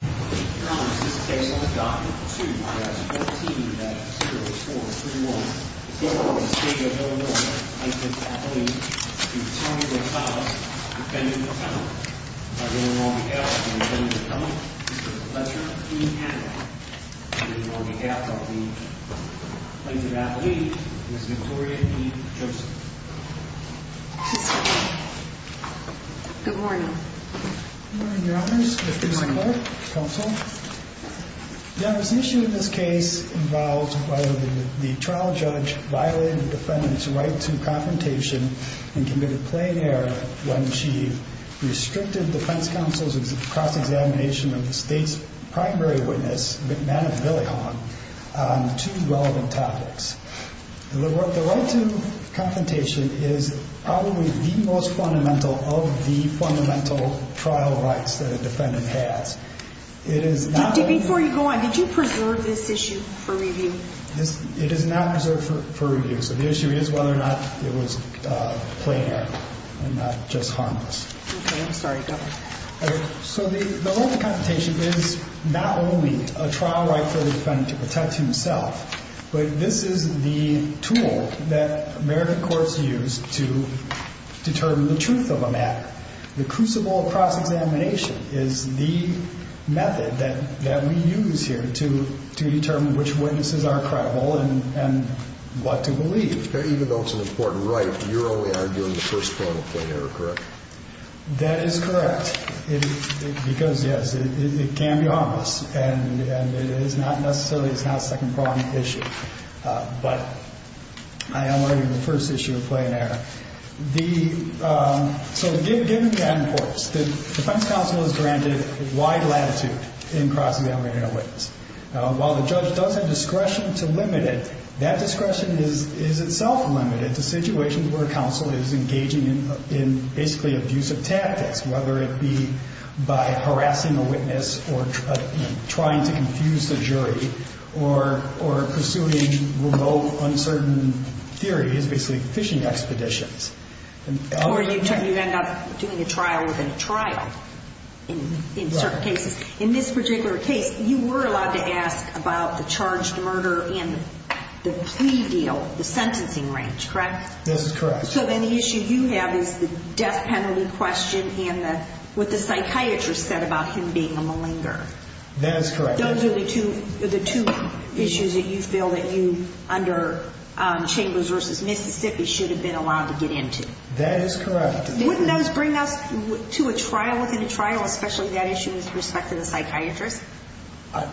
Good morning, Your Honors. This is a case on the document 2 I. S. 14-0-4-3-1. The court ordered the State of Illinois plaintiff, Appoline, to return Rosalez, defendant, defendant, by the order of the Court of Appeal, to return the defendant, Mr. Fletcher E. Adler. On behalf of the plaintiff, Appoline, Ms. Victoria E. Joseph. Good morning. Good morning, Your Honors. This is the Clerk, Counsel. The onus issue in this case involves whether the trial judge violated the defendant's right to confrontation and committed plain error when she restricted defense counsel's cross-examination of the State's primary witness, Madam Billy Hawn, on two relevant topics. The right to confrontation is probably the most fundamental of the fundamental trial rights that a defendant has. Before you go on, did you preserve this issue for review? It is not preserved for review. So the issue is whether or not it was plain error and not just harmless. Okay. I'm sorry. Go ahead. So the right to confrontation is not only a trial right for the defendant to protect himself, but this is the tool that American courts use to determine the truth of a matter. The crucible of cross-examination is the method that we use here to determine which witnesses are credible and what to believe. Even though it's an important right, you're only arguing the first point of plain error, correct? That is correct, because, yes, it can be harmless, and it is not necessarily a second-pronged issue. But I am arguing the first issue of plain error. So given that importance, the defense counsel is granted wide latitude in cross-examining a witness. While the judge does have discretion to limit it, that discretion is itself limited to situations where counsel is engaging in basically abusive tactics, whether it be by harassing a witness or trying to confuse the jury or pursuing remote, uncertain theories, basically fishing expeditions. Or you end up doing a trial within a trial in certain cases. In this particular case, you were allowed to ask about the charged murder and the plea deal, the sentencing range, correct? This is correct. So then the issue you have is the death penalty question and what the psychiatrist said about him being a malinger. That is correct. Those are the two issues that you feel that you, under Chambers v. Mississippi, should have been allowed to get into. That is correct. Wouldn't those bring us to a trial within a trial, especially that issue with respect to the psychiatrist?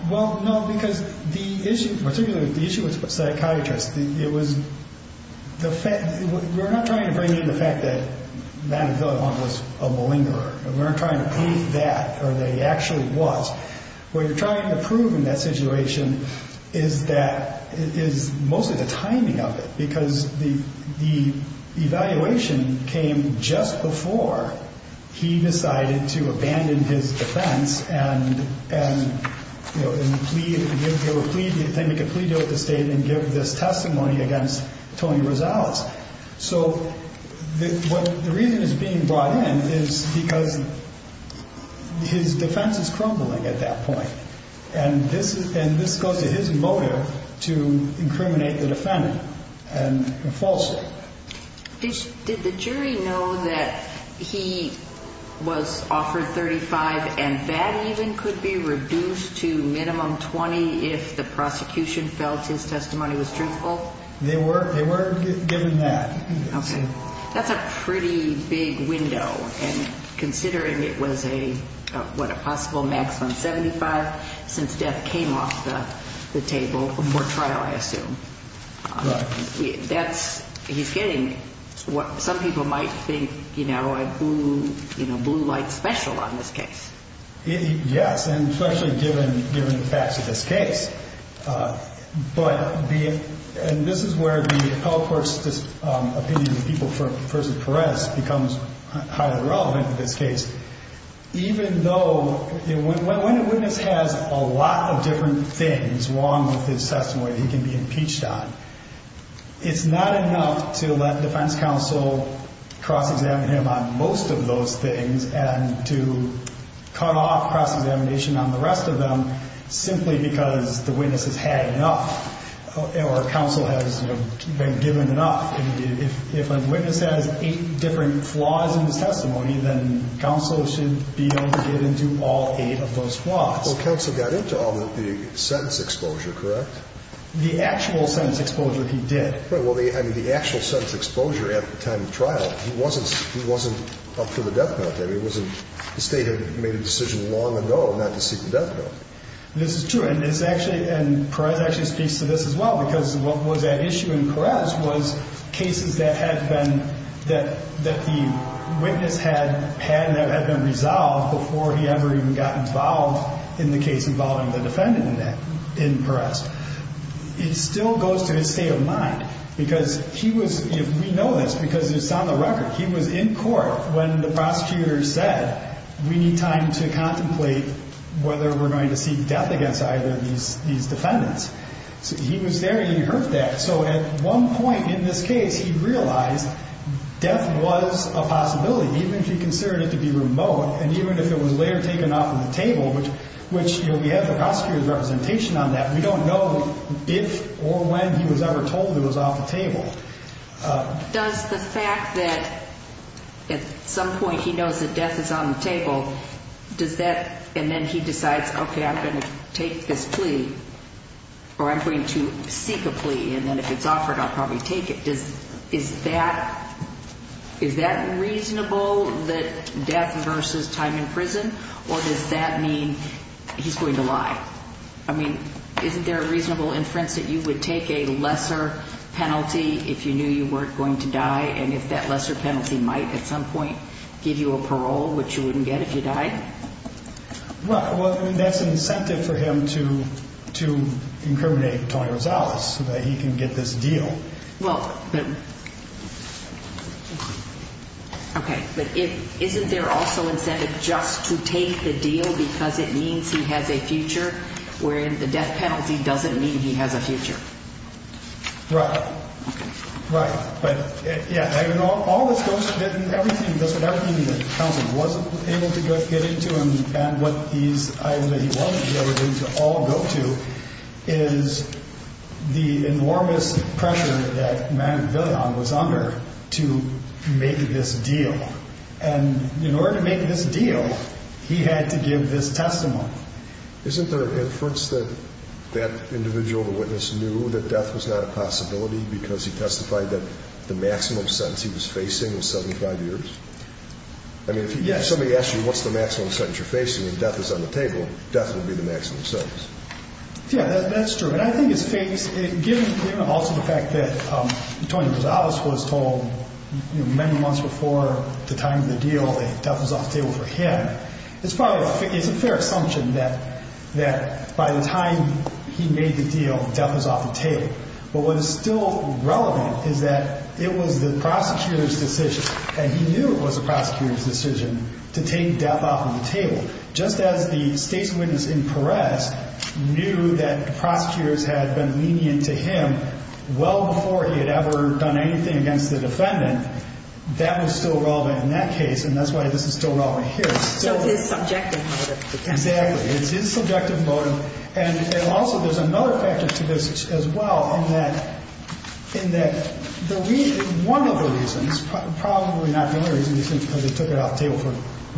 Well, no, because the issue, particularly the issue with the psychiatrist, it was the fact we're not trying to bring in the fact that Madam Villalon was a malingerer. We're not trying to prove that or that he actually was. What you're trying to prove in that situation is that it is mostly the timing of it, because the evaluation came just before he decided to abandon his defense and, you know, plead, make a plea deal with the state and give this testimony against Tony Rosales. So the reason he's being brought in is because his defense is crumbling at that point, and this goes to his motive to incriminate the defendant and falsely. Did the jury know that he was offered 35 and that even could be reduced to minimum 20 if the prosecution felt his testimony was truthful? They were given that. Okay. That's a pretty big window. And considering it was a, what, a possible maximum 75 since death came off the table before trial, I assume. Right. That's, he's getting what some people might think, you know, a blue light special on this case. Yes, and especially given, given the facts of this case. But the, and this is where the appellate court's opinion of the people versus Perez becomes highly relevant in this case. Even though when a witness has a lot of different things wrong with his testimony, he can be impeached on. It's not enough to let defense counsel cross-examine him on most of those things and to cut off cross-examination on the rest of them simply because the witness has had enough. Or counsel has been given enough. If a witness has eight different flaws in his testimony, then counsel should be able to get into all eight of those flaws. Well, counsel got into all the sentence exposure, correct? The actual sentence exposure he did. Right. Well, the, I mean, the actual sentence exposure at the time of trial, he wasn't, he wasn't up for the death penalty. I mean, it wasn't, the state had made a decision long ago not to seek the death penalty. This is true. And it's actually, and Perez actually speaks to this as well. Because what was at issue in Perez was cases that had been, that the witness had, had been resolved before he ever even got involved in the case involving the defendant in Perez. It still goes to his state of mind because he was, we know this because it's on the record. He was in court when the prosecutor said, we need time to contemplate whether we're going to seek death against either of these defendants. So he was there and he heard that. So at one point in this case, he realized death was a possibility, even if he considered it to be remote. And even if it was later taken off of the table, which, you know, we have the prosecutor's representation on that. We don't know if or when he was ever told it was off the table. Does the fact that at some point he knows that death is on the table, does that, and then he decides, okay, I'm going to take this plea, or I'm going to seek a plea. And then if it's offered, I'll probably take it. Does, is that, is that reasonable that death versus time in prison? Or does that mean he's going to lie? I mean, isn't there a reasonable inference that you would take a lesser penalty if you knew you weren't going to die? And if that lesser penalty might at some point give you a parole, which you wouldn't get if you died? Well, I mean, that's an incentive for him to, to incriminate Tony Rosales so that he can get this deal. Well, okay, but isn't there also incentive just to take the deal because it means he has a future, wherein the death penalty doesn't mean he has a future? Right, right. Isn't there an inference that that individual, the witness, knew that death was not a possibility because he testified that death was not a possibility? The maximum sentence he was facing was 75 years? Yes. I mean, if somebody asks you what's the maximum sentence you're facing and death is on the table, death would be the maximum sentence. Yeah, that's true. And I think it's, given also the fact that Tony Rosales was told many months before the time of the deal that death was off the table for him, it's probably, it's a fair assumption that by the time he made the deal, death was off the table. But what is still relevant is that it was the prosecutor's decision, and he knew it was the prosecutor's decision, to take death off the table. Just as the state's witness in Perez knew that prosecutors had been lenient to him well before he had ever done anything against the defendant, that was still relevant in that case, and that's why this is still relevant here. So it's his subjective motive. Exactly. It's his subjective motive. And also there's another factor to this as well in that the reason, one of the reasons, probably not the only reason, because they took it off the table for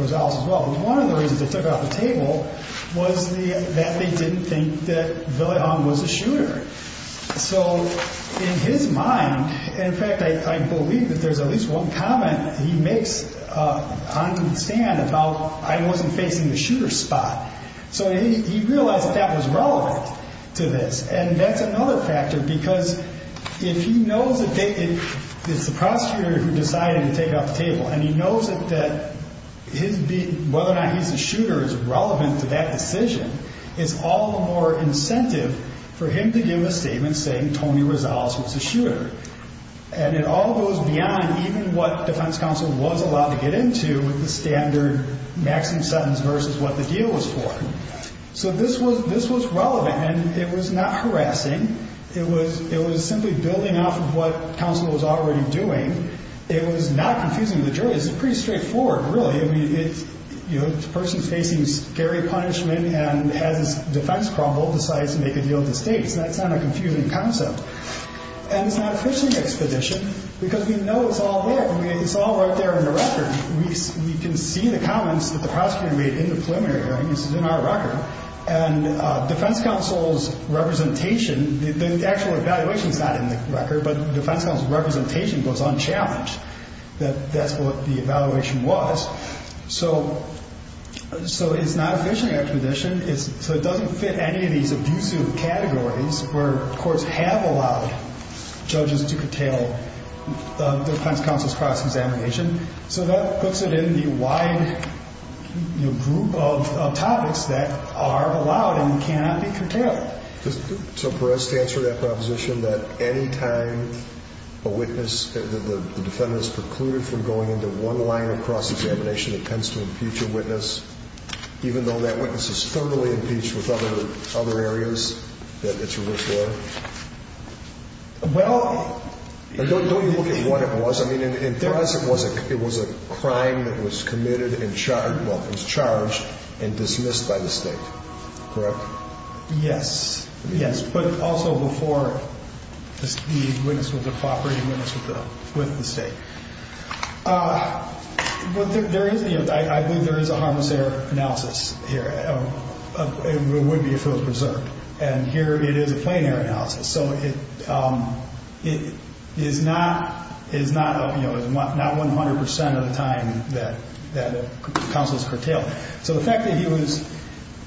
Rosales as well, but one of the reasons they took it off the table was that they didn't think that Villajon was a shooter. So in his mind, in fact, I believe that there's at least one comment he makes on the stand about, I wasn't facing the shooter's spot. So he realized that that was relevant to this. And that's another factor because if he knows that it's the prosecutor who decided to take it off the table and he knows that whether or not he's a shooter is relevant to that decision, it's all the more incentive for him to give a statement saying Tony Rosales was a shooter. And it all goes beyond even what defense counsel was allowed to get into with the standard maximum sentence versus what the deal was for. So this was relevant, and it was not harassing. It was simply building off of what counsel was already doing. It was not confusing to the jury. It's pretty straightforward, really. I mean, it's a person facing scary punishment and has his defense crumble, decides to make a deal with the state. So that's not a confusing concept. And it's not a fishing expedition because we know it's all there. I mean, it's all right there in the record. We can see the comments that the prosecutor made in the preliminary hearing. This is in our record. And defense counsel's representation, the actual evaluation is not in the record, but defense counsel's representation goes unchallenged that that's what the evaluation was. So it's not a fishing expedition. So it doesn't fit any of these abusive categories where courts have allowed judges to curtail defense counsel's cross-examination. So that puts it in the wide group of topics that are allowed and cannot be curtailed. So for us to answer that proposition that any time a witness, the defendant is precluded from going into one line of cross-examination that tends to impute your witness, even though that witness is thoroughly impeached with other areas that it's a risk for? Well. Don't you look at what it was? I mean, in Thrasing, it was a crime that was committed and charged, well, it was charged and dismissed by the state. Correct? Yes. Yes. But also before the witness was a cooperating witness with the state. But there is, I believe there is a harmless error analysis here. It would be if it was preserved. And here it is a plain error analysis. So it is not 100 percent of the time that counsels curtail. So the fact that he was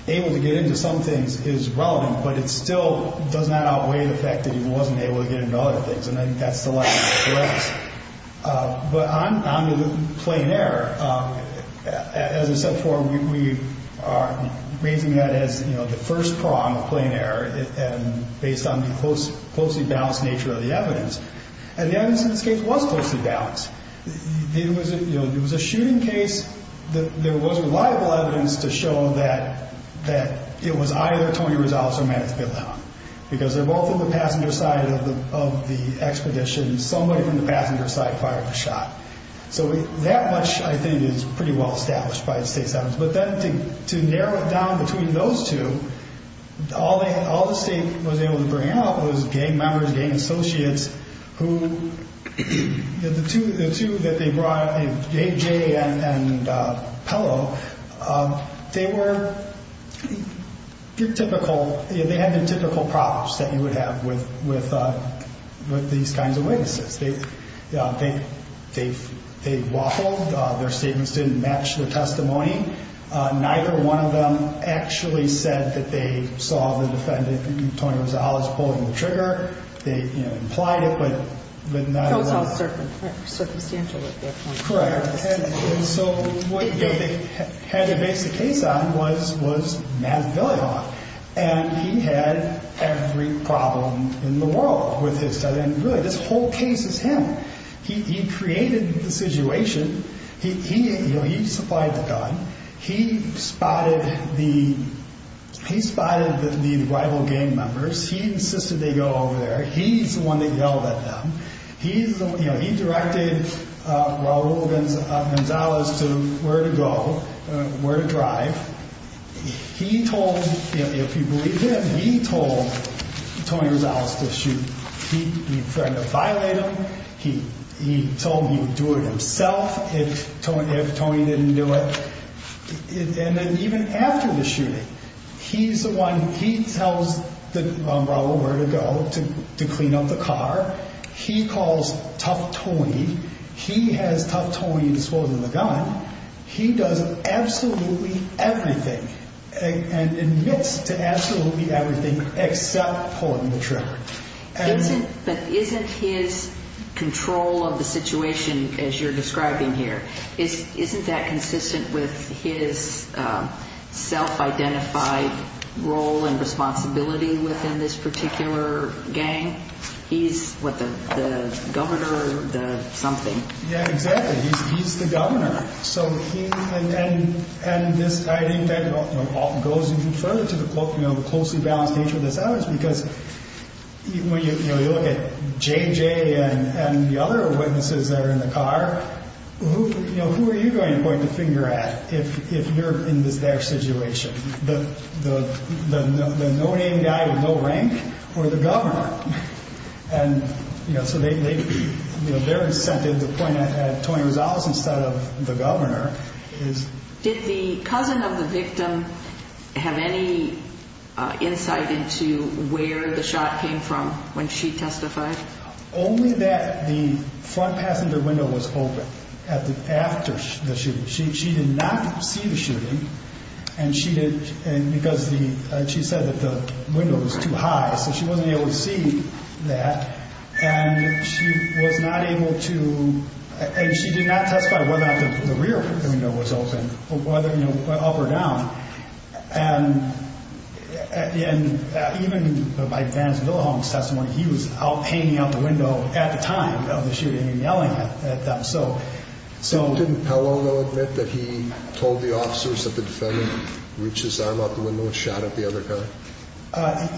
able to get into some things is relevant, but it still does not outweigh the fact that he wasn't able to get into other things. And I think that's the lesson for us. But on to the plain error, as I said before, we are raising that as, you know, the first prong of plain error based on the closely balanced nature of the evidence. And the evidence in this case was closely balanced. It was a shooting case. There was reliable evidence to show that it was either Tony Rezales or Manny Filihan because they're both on the passenger side of the expedition. Somebody from the passenger side fired the shot. So that much, I think, is pretty well established by the state's evidence. But then to narrow it down between those two, all the state was able to bring out was gang members, gang associates who, the two that they brought, J.J. and Pello, they were typical. They had the typical problems that you would have with these kinds of witnesses. They waffled. Their statements didn't match the testimony. Neither one of them actually said that they saw the defendant, Tony Rezales, pulling the trigger. They, you know, implied it, but not enough. Correct. And so what they had to base the case on was Manny Filihan. And he had every problem in the world with this. And really, this whole case is him. He created the situation. He supplied the gun. He spotted the rival gang members. He insisted they go over there. He's the one that yelled at them. He directed Raul Gonzalez to where to go, where to drive. He told, if you believe him, he told Tony Rezales to shoot. He threatened to violate him. He told him he would do it himself if Tony didn't do it. And then even after the shooting, he's the one, he tells Raul where to go to clean up the car. He calls tough Tony. He has tough Tony disposing of the gun. He does absolutely everything and admits to absolutely everything except pulling the trigger. But isn't his control of the situation, as you're describing here, isn't that consistent with his self-identified role and responsibility within this particular gang? He's what, the governor, the something. Yeah, exactly. He's the governor. And this, I think, goes even further to the closely balanced nature of this hour is because when you look at JJ and the other witnesses that are in the car, who are you going to point the finger at if you're in their situation? The no-name guy with no rank or the governor? And so they're incented to point at Tony Rezales instead of the governor. Did the cousin of the victim have any insight into where the shot came from when she testified? Only that the front passenger window was open after the shooting. She did not see the shooting because she said that the window was too high, so she wasn't able to see that. And she was not able to—and she did not testify whether or not the rear window was open, whether up or down. And even by Vance Villahong's testimony, he was hanging out the window at the time of the shooting and yelling at them. Didn't Pelo, though, admit that he told the officers that the defendant reached his arm out the window and shot at the other guy?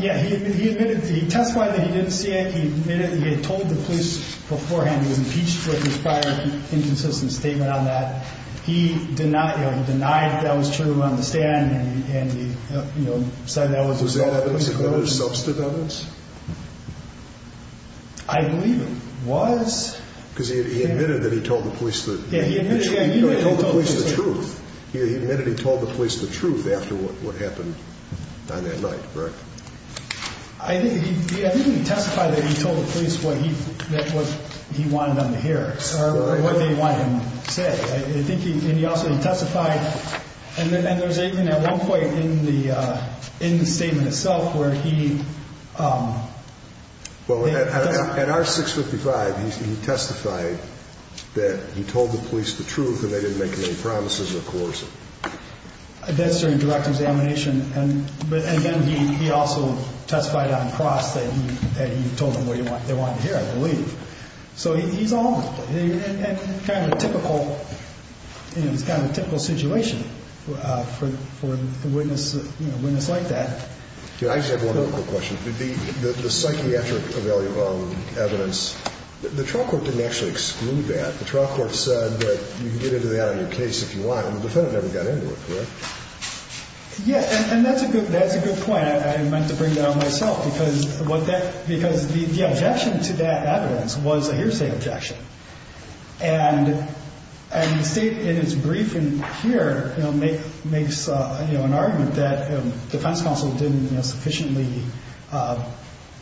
Yeah, he admitted. He testified that he didn't see it. He admitted he had told the police beforehand he was impeached for his prior inconsistent statement on that. He denied that was true on the stand. Was that evidence of self-development? I believe it was. Because he admitted that he told the police the truth. He admitted he told the police the truth after what happened on that night, correct? I think he testified that he told the police what he wanted them to hear, or what they wanted him to say. I think he also testified—and there's even at one point in the statement itself where he— Well, at our 655, he testified that he told the police the truth and they didn't make any promises or coercion. That's during direct examination. But, again, he also testified on the cross that he told them what they wanted to hear, I believe. So he's all in. It's kind of a typical situation for a witness like that. I just have one other quick question. The psychiatric evaluation evidence, the trial court didn't actually exclude that. The trial court said that you can get into that on your case if you want, and the defendant never got into it, correct? Yeah, and that's a good point. I meant to bring that up myself because the objection to that evidence was a hearsay objection. And the State, in its briefing here, makes an argument that the defense counsel didn't sufficiently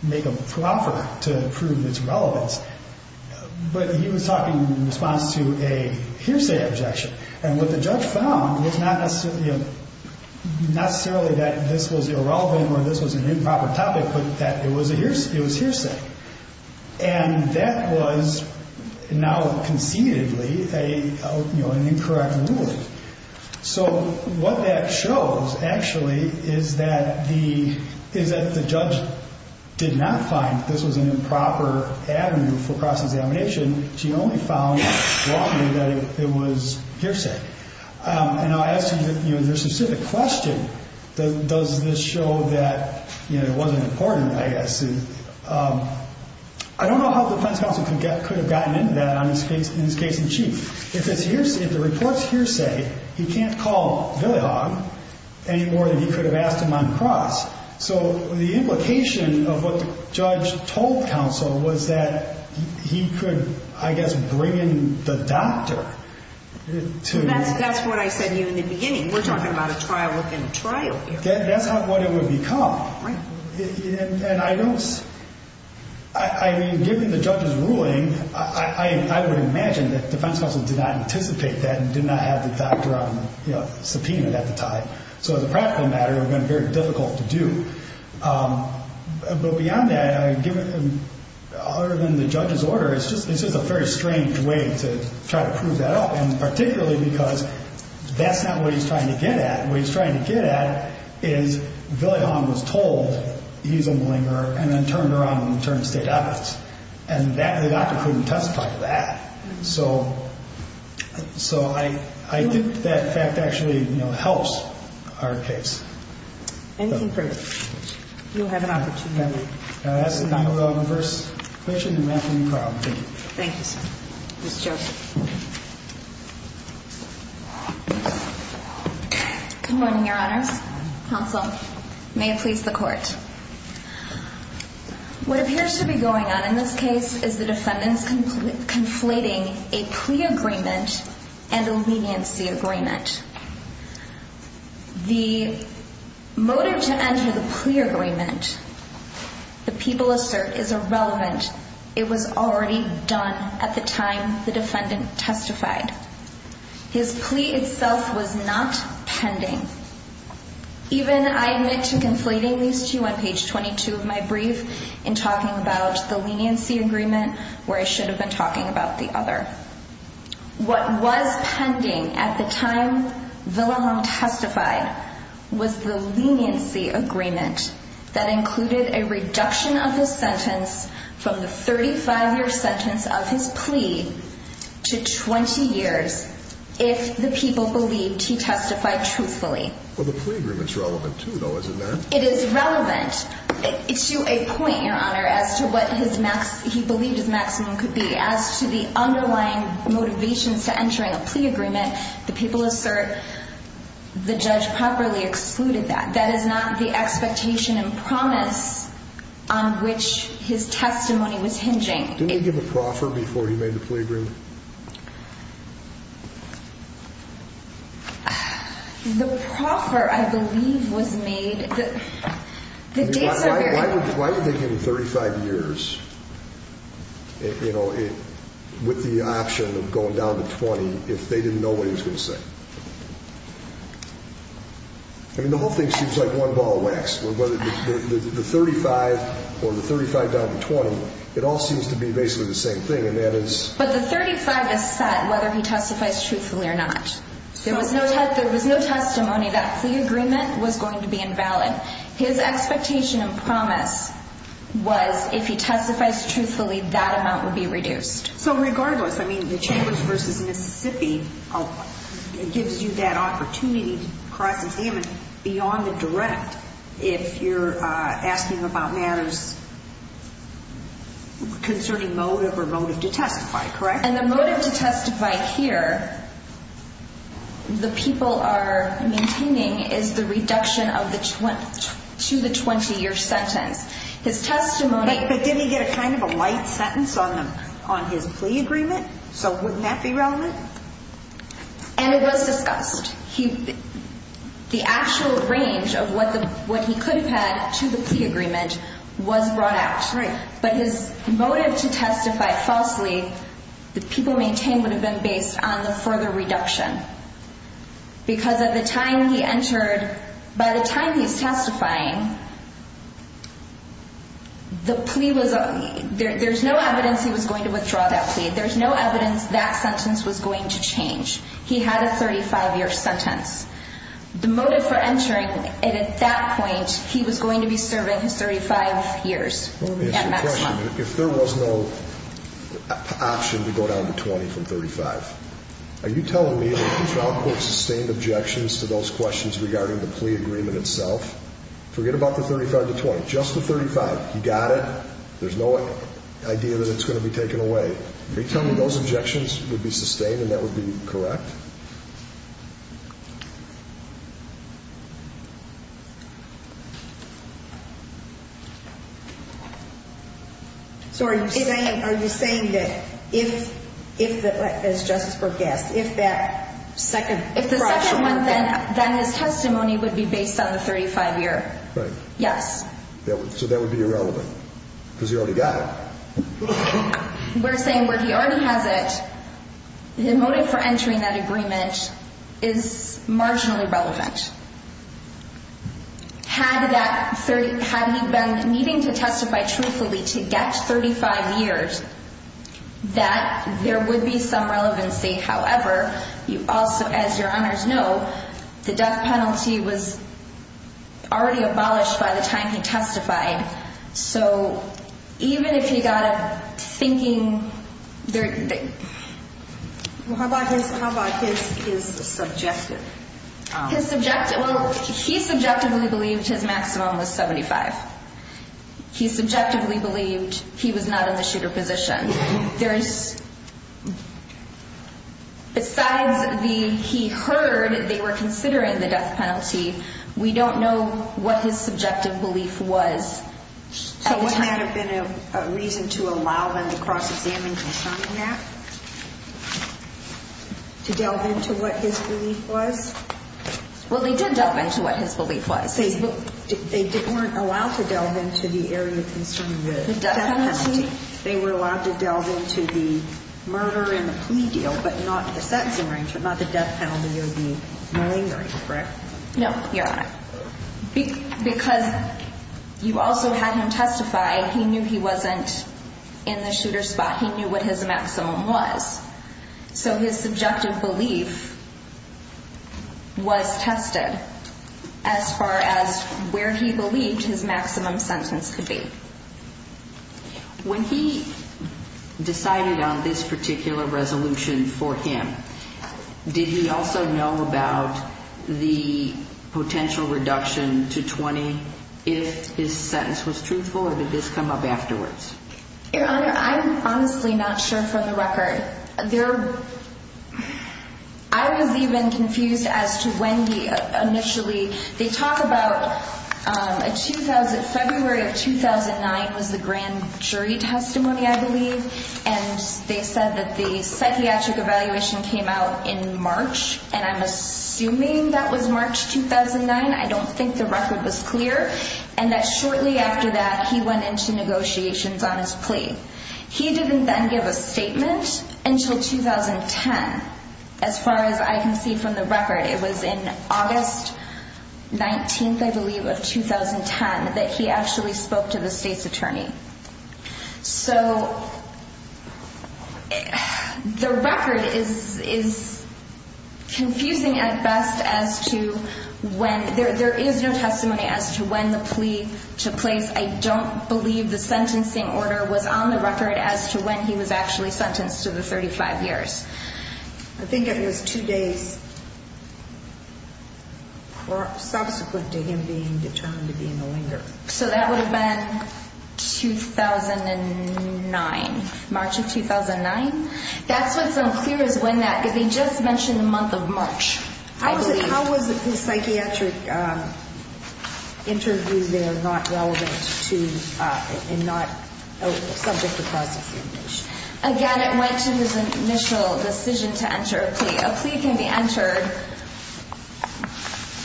make a proffer to prove its relevance. But he was talking in response to a hearsay objection, and what the judge found was not necessarily that this was irrelevant or this was an improper topic, but that it was hearsay. And that was now concededly an incorrect ruling. So what that shows, actually, is that the judge did not find this was an improper avenue for cross-examination. She only found, broadly, that it was hearsay. And I'll ask you the specific question. Does this show that it wasn't important, I guess? I don't know how the defense counsel could have gotten into that in his case in chief. If the report's hearsay, he can't call Villahog any more than he could have asked him on cross. So the implication of what the judge told counsel was that he could, I guess, bring in the doctor. That's what I said to you in the beginning. We're talking about a trial within a trial here. That's what it would become. I mean, given the judge's ruling, I would imagine that defense counsel did not anticipate that and did not have the doctor subpoenaed at the time. So as a practical matter, it would have been very difficult to do. But beyond that, other than the judge's order, it's just a very strange way to try to prove that up, and particularly because that's not what he's trying to get at. What he's trying to get at is Villahog was told he's a malingerer and then turned around and returned to state office. And the doctor couldn't testify to that. So I think that fact actually helps our case. Anything further? You'll have an opportunity. That's the time for our first question. And we're happy to be proud. Thank you. Thank you, sir. Ms. Joseph. Good morning, Your Honors. Counsel. May it please the Court. What appears to be going on in this case is the defendants conflating a plea agreement and a leniency agreement. The motive to enter the plea agreement, the people assert, is irrelevant. It was already done at the time the defendant testified. His plea itself was not pending. Even I admit to conflating these two on page 22 of my brief in talking about the leniency agreement, where I should have been talking about the other. What was pending at the time Villahog testified was the leniency agreement that included a reduction of his sentence from the 35-year sentence of his plea to 20 years if the people believed he testified truthfully. Well, the plea agreement's relevant, too, though, isn't there? It is relevant to a point, Your Honor, as to what he believed his maximum could be. As to the underlying motivations to entering a plea agreement, the people assert the judge properly excluded that. That is not the expectation and promise on which his testimony was hinging. Didn't he give a proffer before he made the plea agreement? The proffer, I believe, was made the dates of your Why do you think in 35 years, you know, with the option of going down to 20, if they didn't know what he was going to say? I mean, the whole thing seems like one ball of wax. Whether the 35 or the 35 down to 20, it all seems to be basically the same thing. But the 35 is set whether he testifies truthfully or not. There was no testimony that plea agreement was going to be invalid. His expectation and promise was if he testifies truthfully, that amount would be reduced. So regardless, I mean, the Chambers v. Mississippi gives you that opportunity to cross examine beyond the direct. If you're asking about matters concerning motive or motive to testify, correct? And the motive to testify here, the people are maintaining is the reduction of the 20 to the 20 year sentence. His testimony. But didn't he get a kind of a light sentence on them on his plea agreement? So wouldn't that be relevant? And it was discussed. The actual range of what the what he could have had to the agreement was brought out. But his motive to testify falsely, the people maintain would have been based on the further reduction. Because at the time he entered, by the time he's testifying. The plea was there. There's no evidence he was going to withdraw that plea. There's no evidence that sentence was going to change. He had a 35 year sentence. The motive for entering. And at that point, he was going to be serving his 35 years. Let me ask you a question. If there was no option to go down to 20 from 35. Are you telling me that you found sustained objections to those questions regarding the plea agreement itself? Forget about the 35 to 20. Just the 35. You got it. There's no idea that it's going to be taken away. Are you telling me those objections would be sustained and that would be correct? So are you saying that if, as Justice Brooke asked, if that second. If the second one, then his testimony would be based on the 35 year. Right. Yes. So that would be irrelevant. Because you already got it. We're saying where he already has it. The motive for entering that agreement is marginally relevant. Had that 30. Had he been needing to testify truthfully to get 35 years that there would be some relevancy. However, you also, as your honors know, the death penalty was already abolished by the time he testified. So even if you got it thinking there. How about his? How about his? His subjective. His subjective. Well, he subjectively believed his maximum was 75. He subjectively believed he was not in the shooter position. There is. Besides the he heard they were considering the death penalty. We don't know what his subjective belief was. So what might have been a reason to allow them to cross examine. To delve into what his belief was. Well, they did delve into what his belief was. They weren't allowed to delve into the area of concern. They were allowed to delve into the murder and the plea deal, but not the sex. But not the death penalty or the malingering. Correct. No, your honor. Because you also had him testify. He knew he wasn't in the shooter spot. He knew what his maximum was. So his subjective belief. Was tested as far as where he believed his maximum sentence could be. When he decided on this particular resolution for him. Did he also know about the potential reduction to 20? If his sentence was truthful or did this come up afterwards? Your honor. I'm honestly not sure for the record there. I was even confused as to when the initially they talk about. A 2000 February of 2009 was the grand jury testimony, I believe. And they said that the psychiatric evaluation came out in March. And I'm assuming that was March 2009. I don't think the record was clear. And that shortly after that, he went into negotiations on his plea. He didn't then give a statement until 2010. As far as I can see from the record, it was in August. 19th, I believe of 2010 that he actually spoke to the state's attorney. So. The record is is. Confusing at best as to when there is no testimony as to when the plea took place. I don't believe the sentencing order was on the record as to when he was actually sentenced to the 35 years. I think it was two days. Subsequent to him being determined to be in the linger. So that would have been 2009. March of 2009. That's what's unclear is when that because they just mentioned the month of March. I believe. How was the psychiatric. Interviews that are not relevant to and not subject to prosecution. Again, it went to his initial decision to enter a plea. A plea can be entered.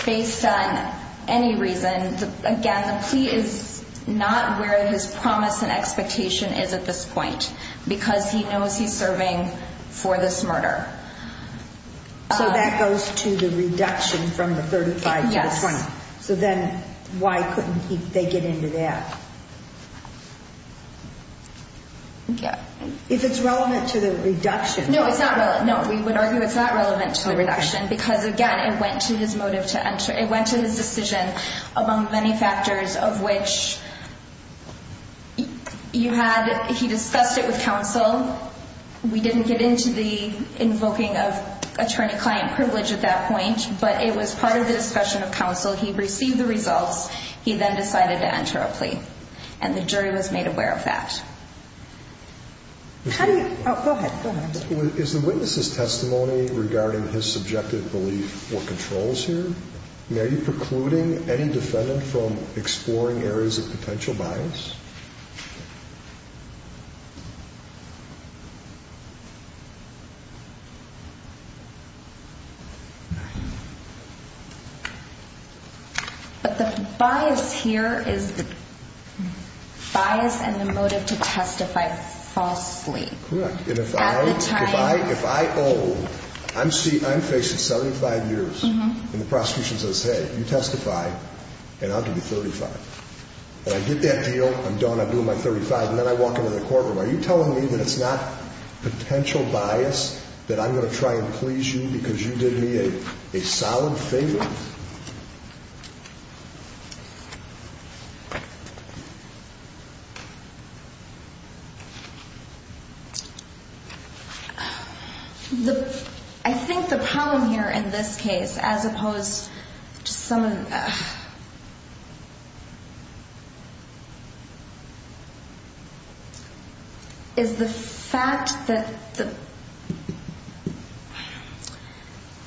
Based on any reason. Again, the plea is not where his promise and expectation is at this point because he knows he's serving for this murder. So that goes to the reduction from the 35. Yes. So then why couldn't they get into that? Yeah. If it's relevant to the reduction. No, it's not. No, we would argue it's not relevant to the reduction because again, it went to his motive to enter. It went to his decision among many factors of which. You had. He discussed it with counsel. We didn't get into the invoking of attorney client privilege at that point, but it was part of the discussion of counsel. He received the results. He then decided to enter a plea and the jury was made aware of that. How do you go ahead? Is the witnesses testimony regarding his subjective belief or controls here? Are you precluding any defendant from exploring areas of potential bias? But the bias here is the. Bias and the motive to testify falsely. Correct. And if I, if I, if I, oh, I'm seeing I'm facing 75 years and the prosecution says, hey, you testify and I'll give you 35. And I get that deal. I'm done. I blew my 35 and then I walk into the courtroom. Are you telling me that it's not potential bias that I'm going to try and please you because you did me a solid favor? The I think the problem here in this case, as opposed to some. Is the fact that the.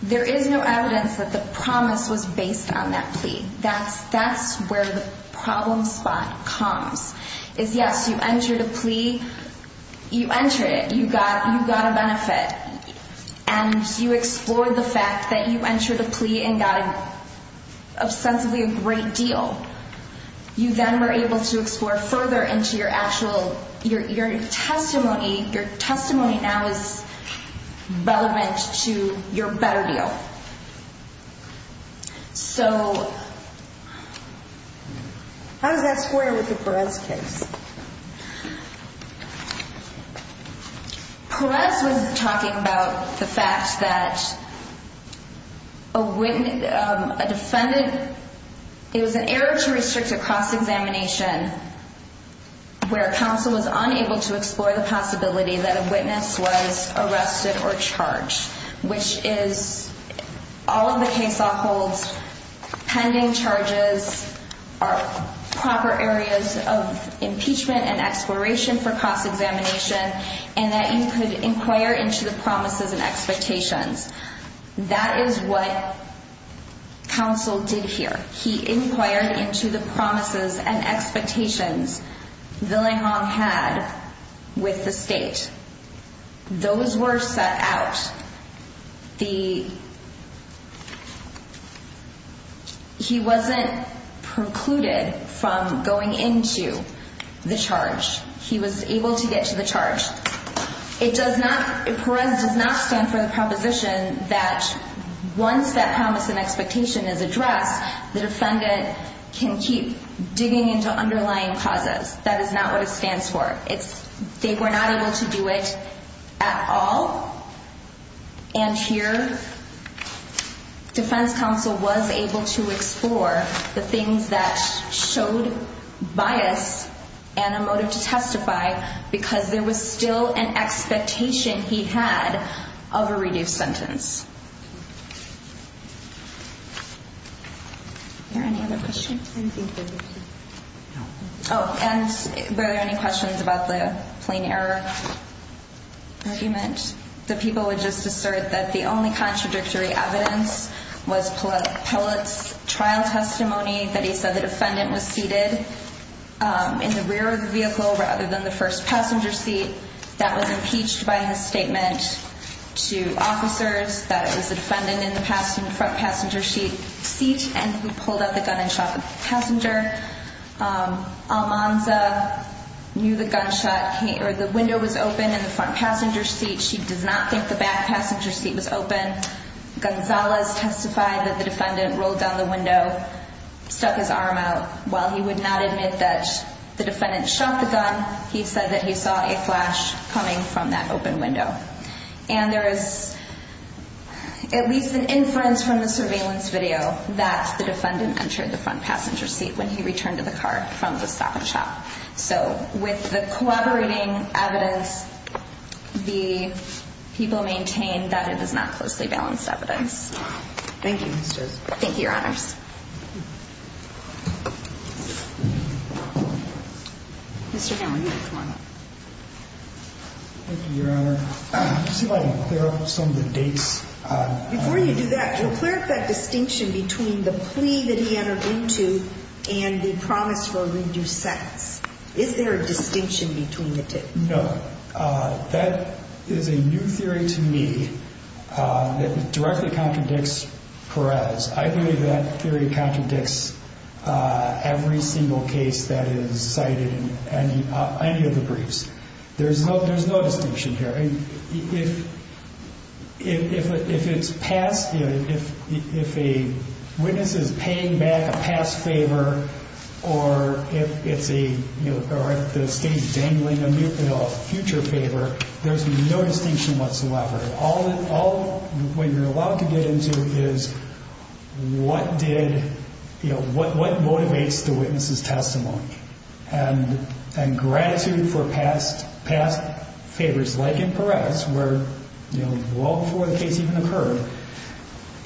There is no evidence that the promise was based on that plea. That's that's where the problem spot comes is. Yes, you entered a plea. You enter it. You got you got a benefit and you explore the fact that you entered a plea and got. Sensibly a great deal. You then were able to explore further into your actual your testimony. Your testimony now is relevant to your better deal. So. How does that square with the press case? Press was talking about the fact that. A witness, a defendant. It was an error to restrict a cross examination. Where counsel was unable to explore the possibility that a witness was arrested or charged, which is. All of the case, all holds pending charges are proper areas of impeachment and exploration for cross examination. And that you could inquire into the promises and expectations. That is what. Counsel did here. He inquired into the promises and expectations. The Hong had with the state. Those were set out. The. He wasn't precluded from going into the charge. He was able to get to the charge. It does not. Perez does not stand for the proposition that once that promise and expectation is addressed, the defendant can keep digging into underlying causes. That is not what it stands for. It's they were not able to do it at all. And here. Defense counsel was able to explore the things that showed bias and a motive to testify because there was still an expectation he had of a reduced sentence. There any other questions? Oh, and there are any questions about the plane error? Argument. The people would just assert that the only contradictory evidence was pellets. Trial testimony that he said the defendant was seated in the rear of the vehicle rather than the first passenger seat that was impeached by his statement to officers. That is, the defendant in the front passenger seat seat and he pulled out the gun and shot the passenger. Almanza knew the gunshot or the window was open in the front passenger seat. She does not think the back passenger seat was open. Gonzalez testified that the defendant rolled down the window, stuck his arm out while he would not admit that the defendant shot the gun. He said that he saw a flash coming from that open window. And there is. At least an inference from the surveillance video that the defendant entered the front passenger seat when he returned to the car from the stock shop. So with the collaborating evidence, the people maintain that it is not closely balanced evidence. Thank you. Thank you, Your Honors. Mr. Thank you, Your Honor. There are some of the dates. Before you do that, you'll clear up that distinction between the plea that he entered into and the promise for a reduced sentence. Is there a distinction between the two? No. That is a new theory to me that directly contradicts Perez. I believe that theory contradicts every single case that is cited in any of the briefs. There's no distinction here. If it's passed, if a witness is paying back a past favor or if it's a state dangling a future favor, there's no distinction whatsoever. All you're allowed to get into is what motivates the witness's testimony and gratitude for past favors like in Perez where well before the case even occurred,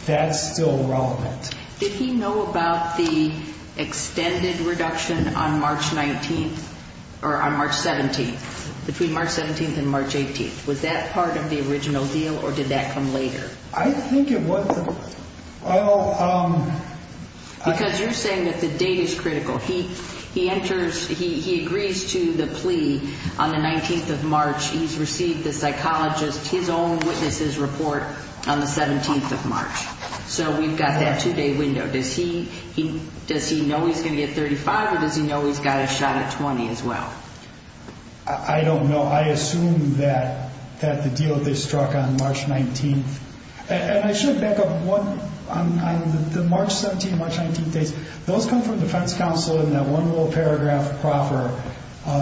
that's still relevant. Did he know about the extended reduction on March 19th or on March 17th, between March 17th and March 18th? Was that part of the original deal or did that come later? I think it was. Because you're saying that the date is critical. He enters, he agrees to the plea on the 19th of March. He's received the psychologist, his own witnesses report on the 17th of March. So we've got that two-day window. Does he know he's going to get 35 or does he know he's got a shot at 20 as well? I don't know. I assume that the deal they struck on March 19th. And I should back up one, on the March 17th, March 19th dates, those come from defense counsel in that one little paragraph proffer.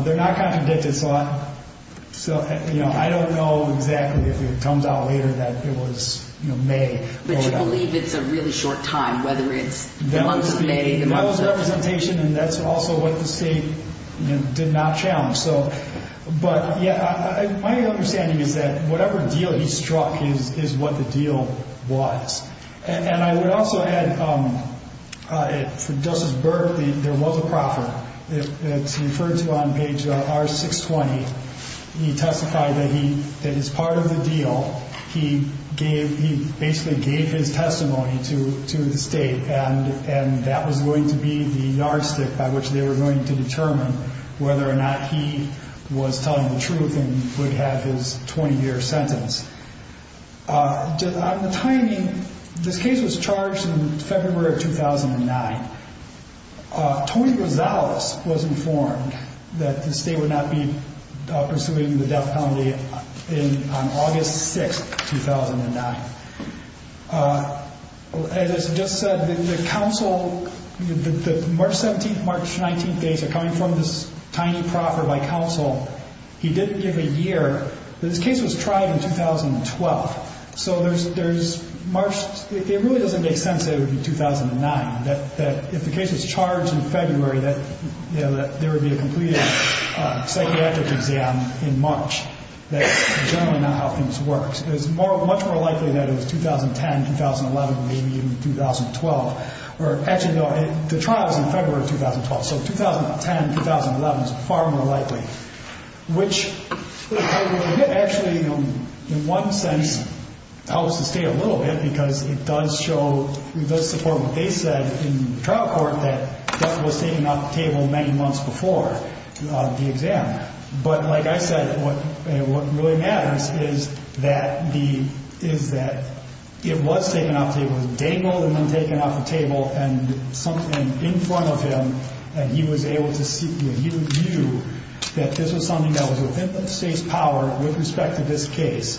They're not contradicted. So I don't know exactly if it comes out later that it was May. But you believe it's a really short time, whether it's the month of May. That was representation and that's also what the state did not challenge. But my understanding is that whatever deal he struck is what the deal was. And I would also add, for Justice Burke, there was a proffer. It's referred to on page R620. He testified that as part of the deal, he basically gave his testimony to the state. And that was going to be the yardstick by which they were going to determine whether or not he was telling the truth and would have his 20-year sentence. On the timing, this case was charged in February of 2009. Tony Rosales was informed that the state would not be pursuing the death penalty on August 6th, 2009. As Justice said, the counsel, the March 17th, March 19th dates are coming from this tiny proffer by counsel. He didn't give a year. This case was tried in 2012. So there's March, it really doesn't make sense that it would be 2009, that if the case was charged in February, that there would be a completed psychiatric exam in March. That's generally not how things work. It's much more likely that it was 2010, 2011, maybe even 2012. Or actually, no, the trial is in February of 2012. So 2010, 2011 is far more likely, which actually, in one sense, helps the state a little bit because it does show, it does support what they said in the trial court that death was taken off the table many months before the exam. But like I said, what really matters is that it was taken off the table. It was dangled and then taken off the table and in front of him, and he was able to view that this was something that was within the state's power with respect to this case,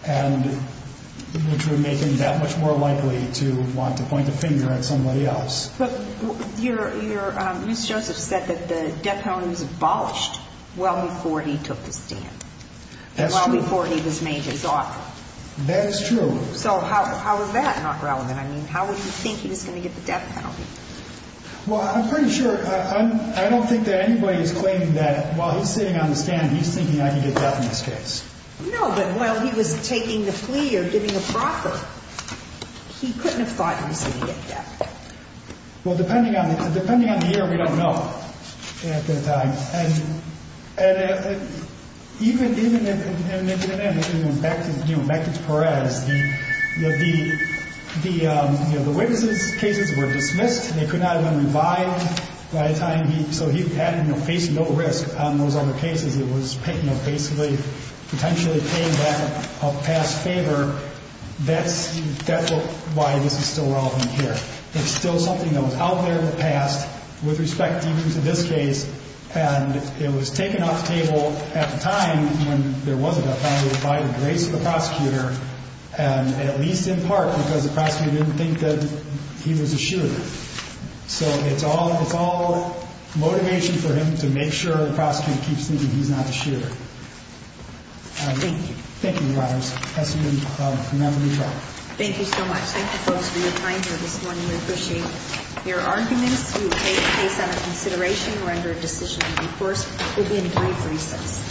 which would make him that much more likely to want to point the finger at somebody else. But Ms. Joseph said that the death penalty was abolished well before he took the stand. That's true. Well before he was made his offer. That is true. So how is that not relevant? I mean, how would you think he was going to get the death penalty? Well, I'm pretty sure, I don't think that anybody is claiming that while he's sitting on the stand, he's thinking, I can get death in this case. No, but while he was taking the plea or giving a proffer, he couldn't have thought he was going to get death. Well, depending on the year, we don't know at that time. And even back to Perez, the witnesses' cases were dismissed. They could not even be revived. So he had to face no risk on those other cases. It was basically potentially paying back a past favor. That's why this is still relevant here. It's still something that was out there in the past with respect even to this case. And it was taken off the table at the time when there was a death penalty by the grace of the prosecutor, and at least in part because the prosecutor didn't think that he was assured. So it's all motivation for him to make sure the prosecutor keeps thinking he's not assured. Thank you. Thank you, Your Honors. That's the end of the trial. Thank you so much. Thank you, folks, for your time here this morning. We appreciate your arguments. We will take this case under consideration and render a decision. Of course, we'll be in brief recess.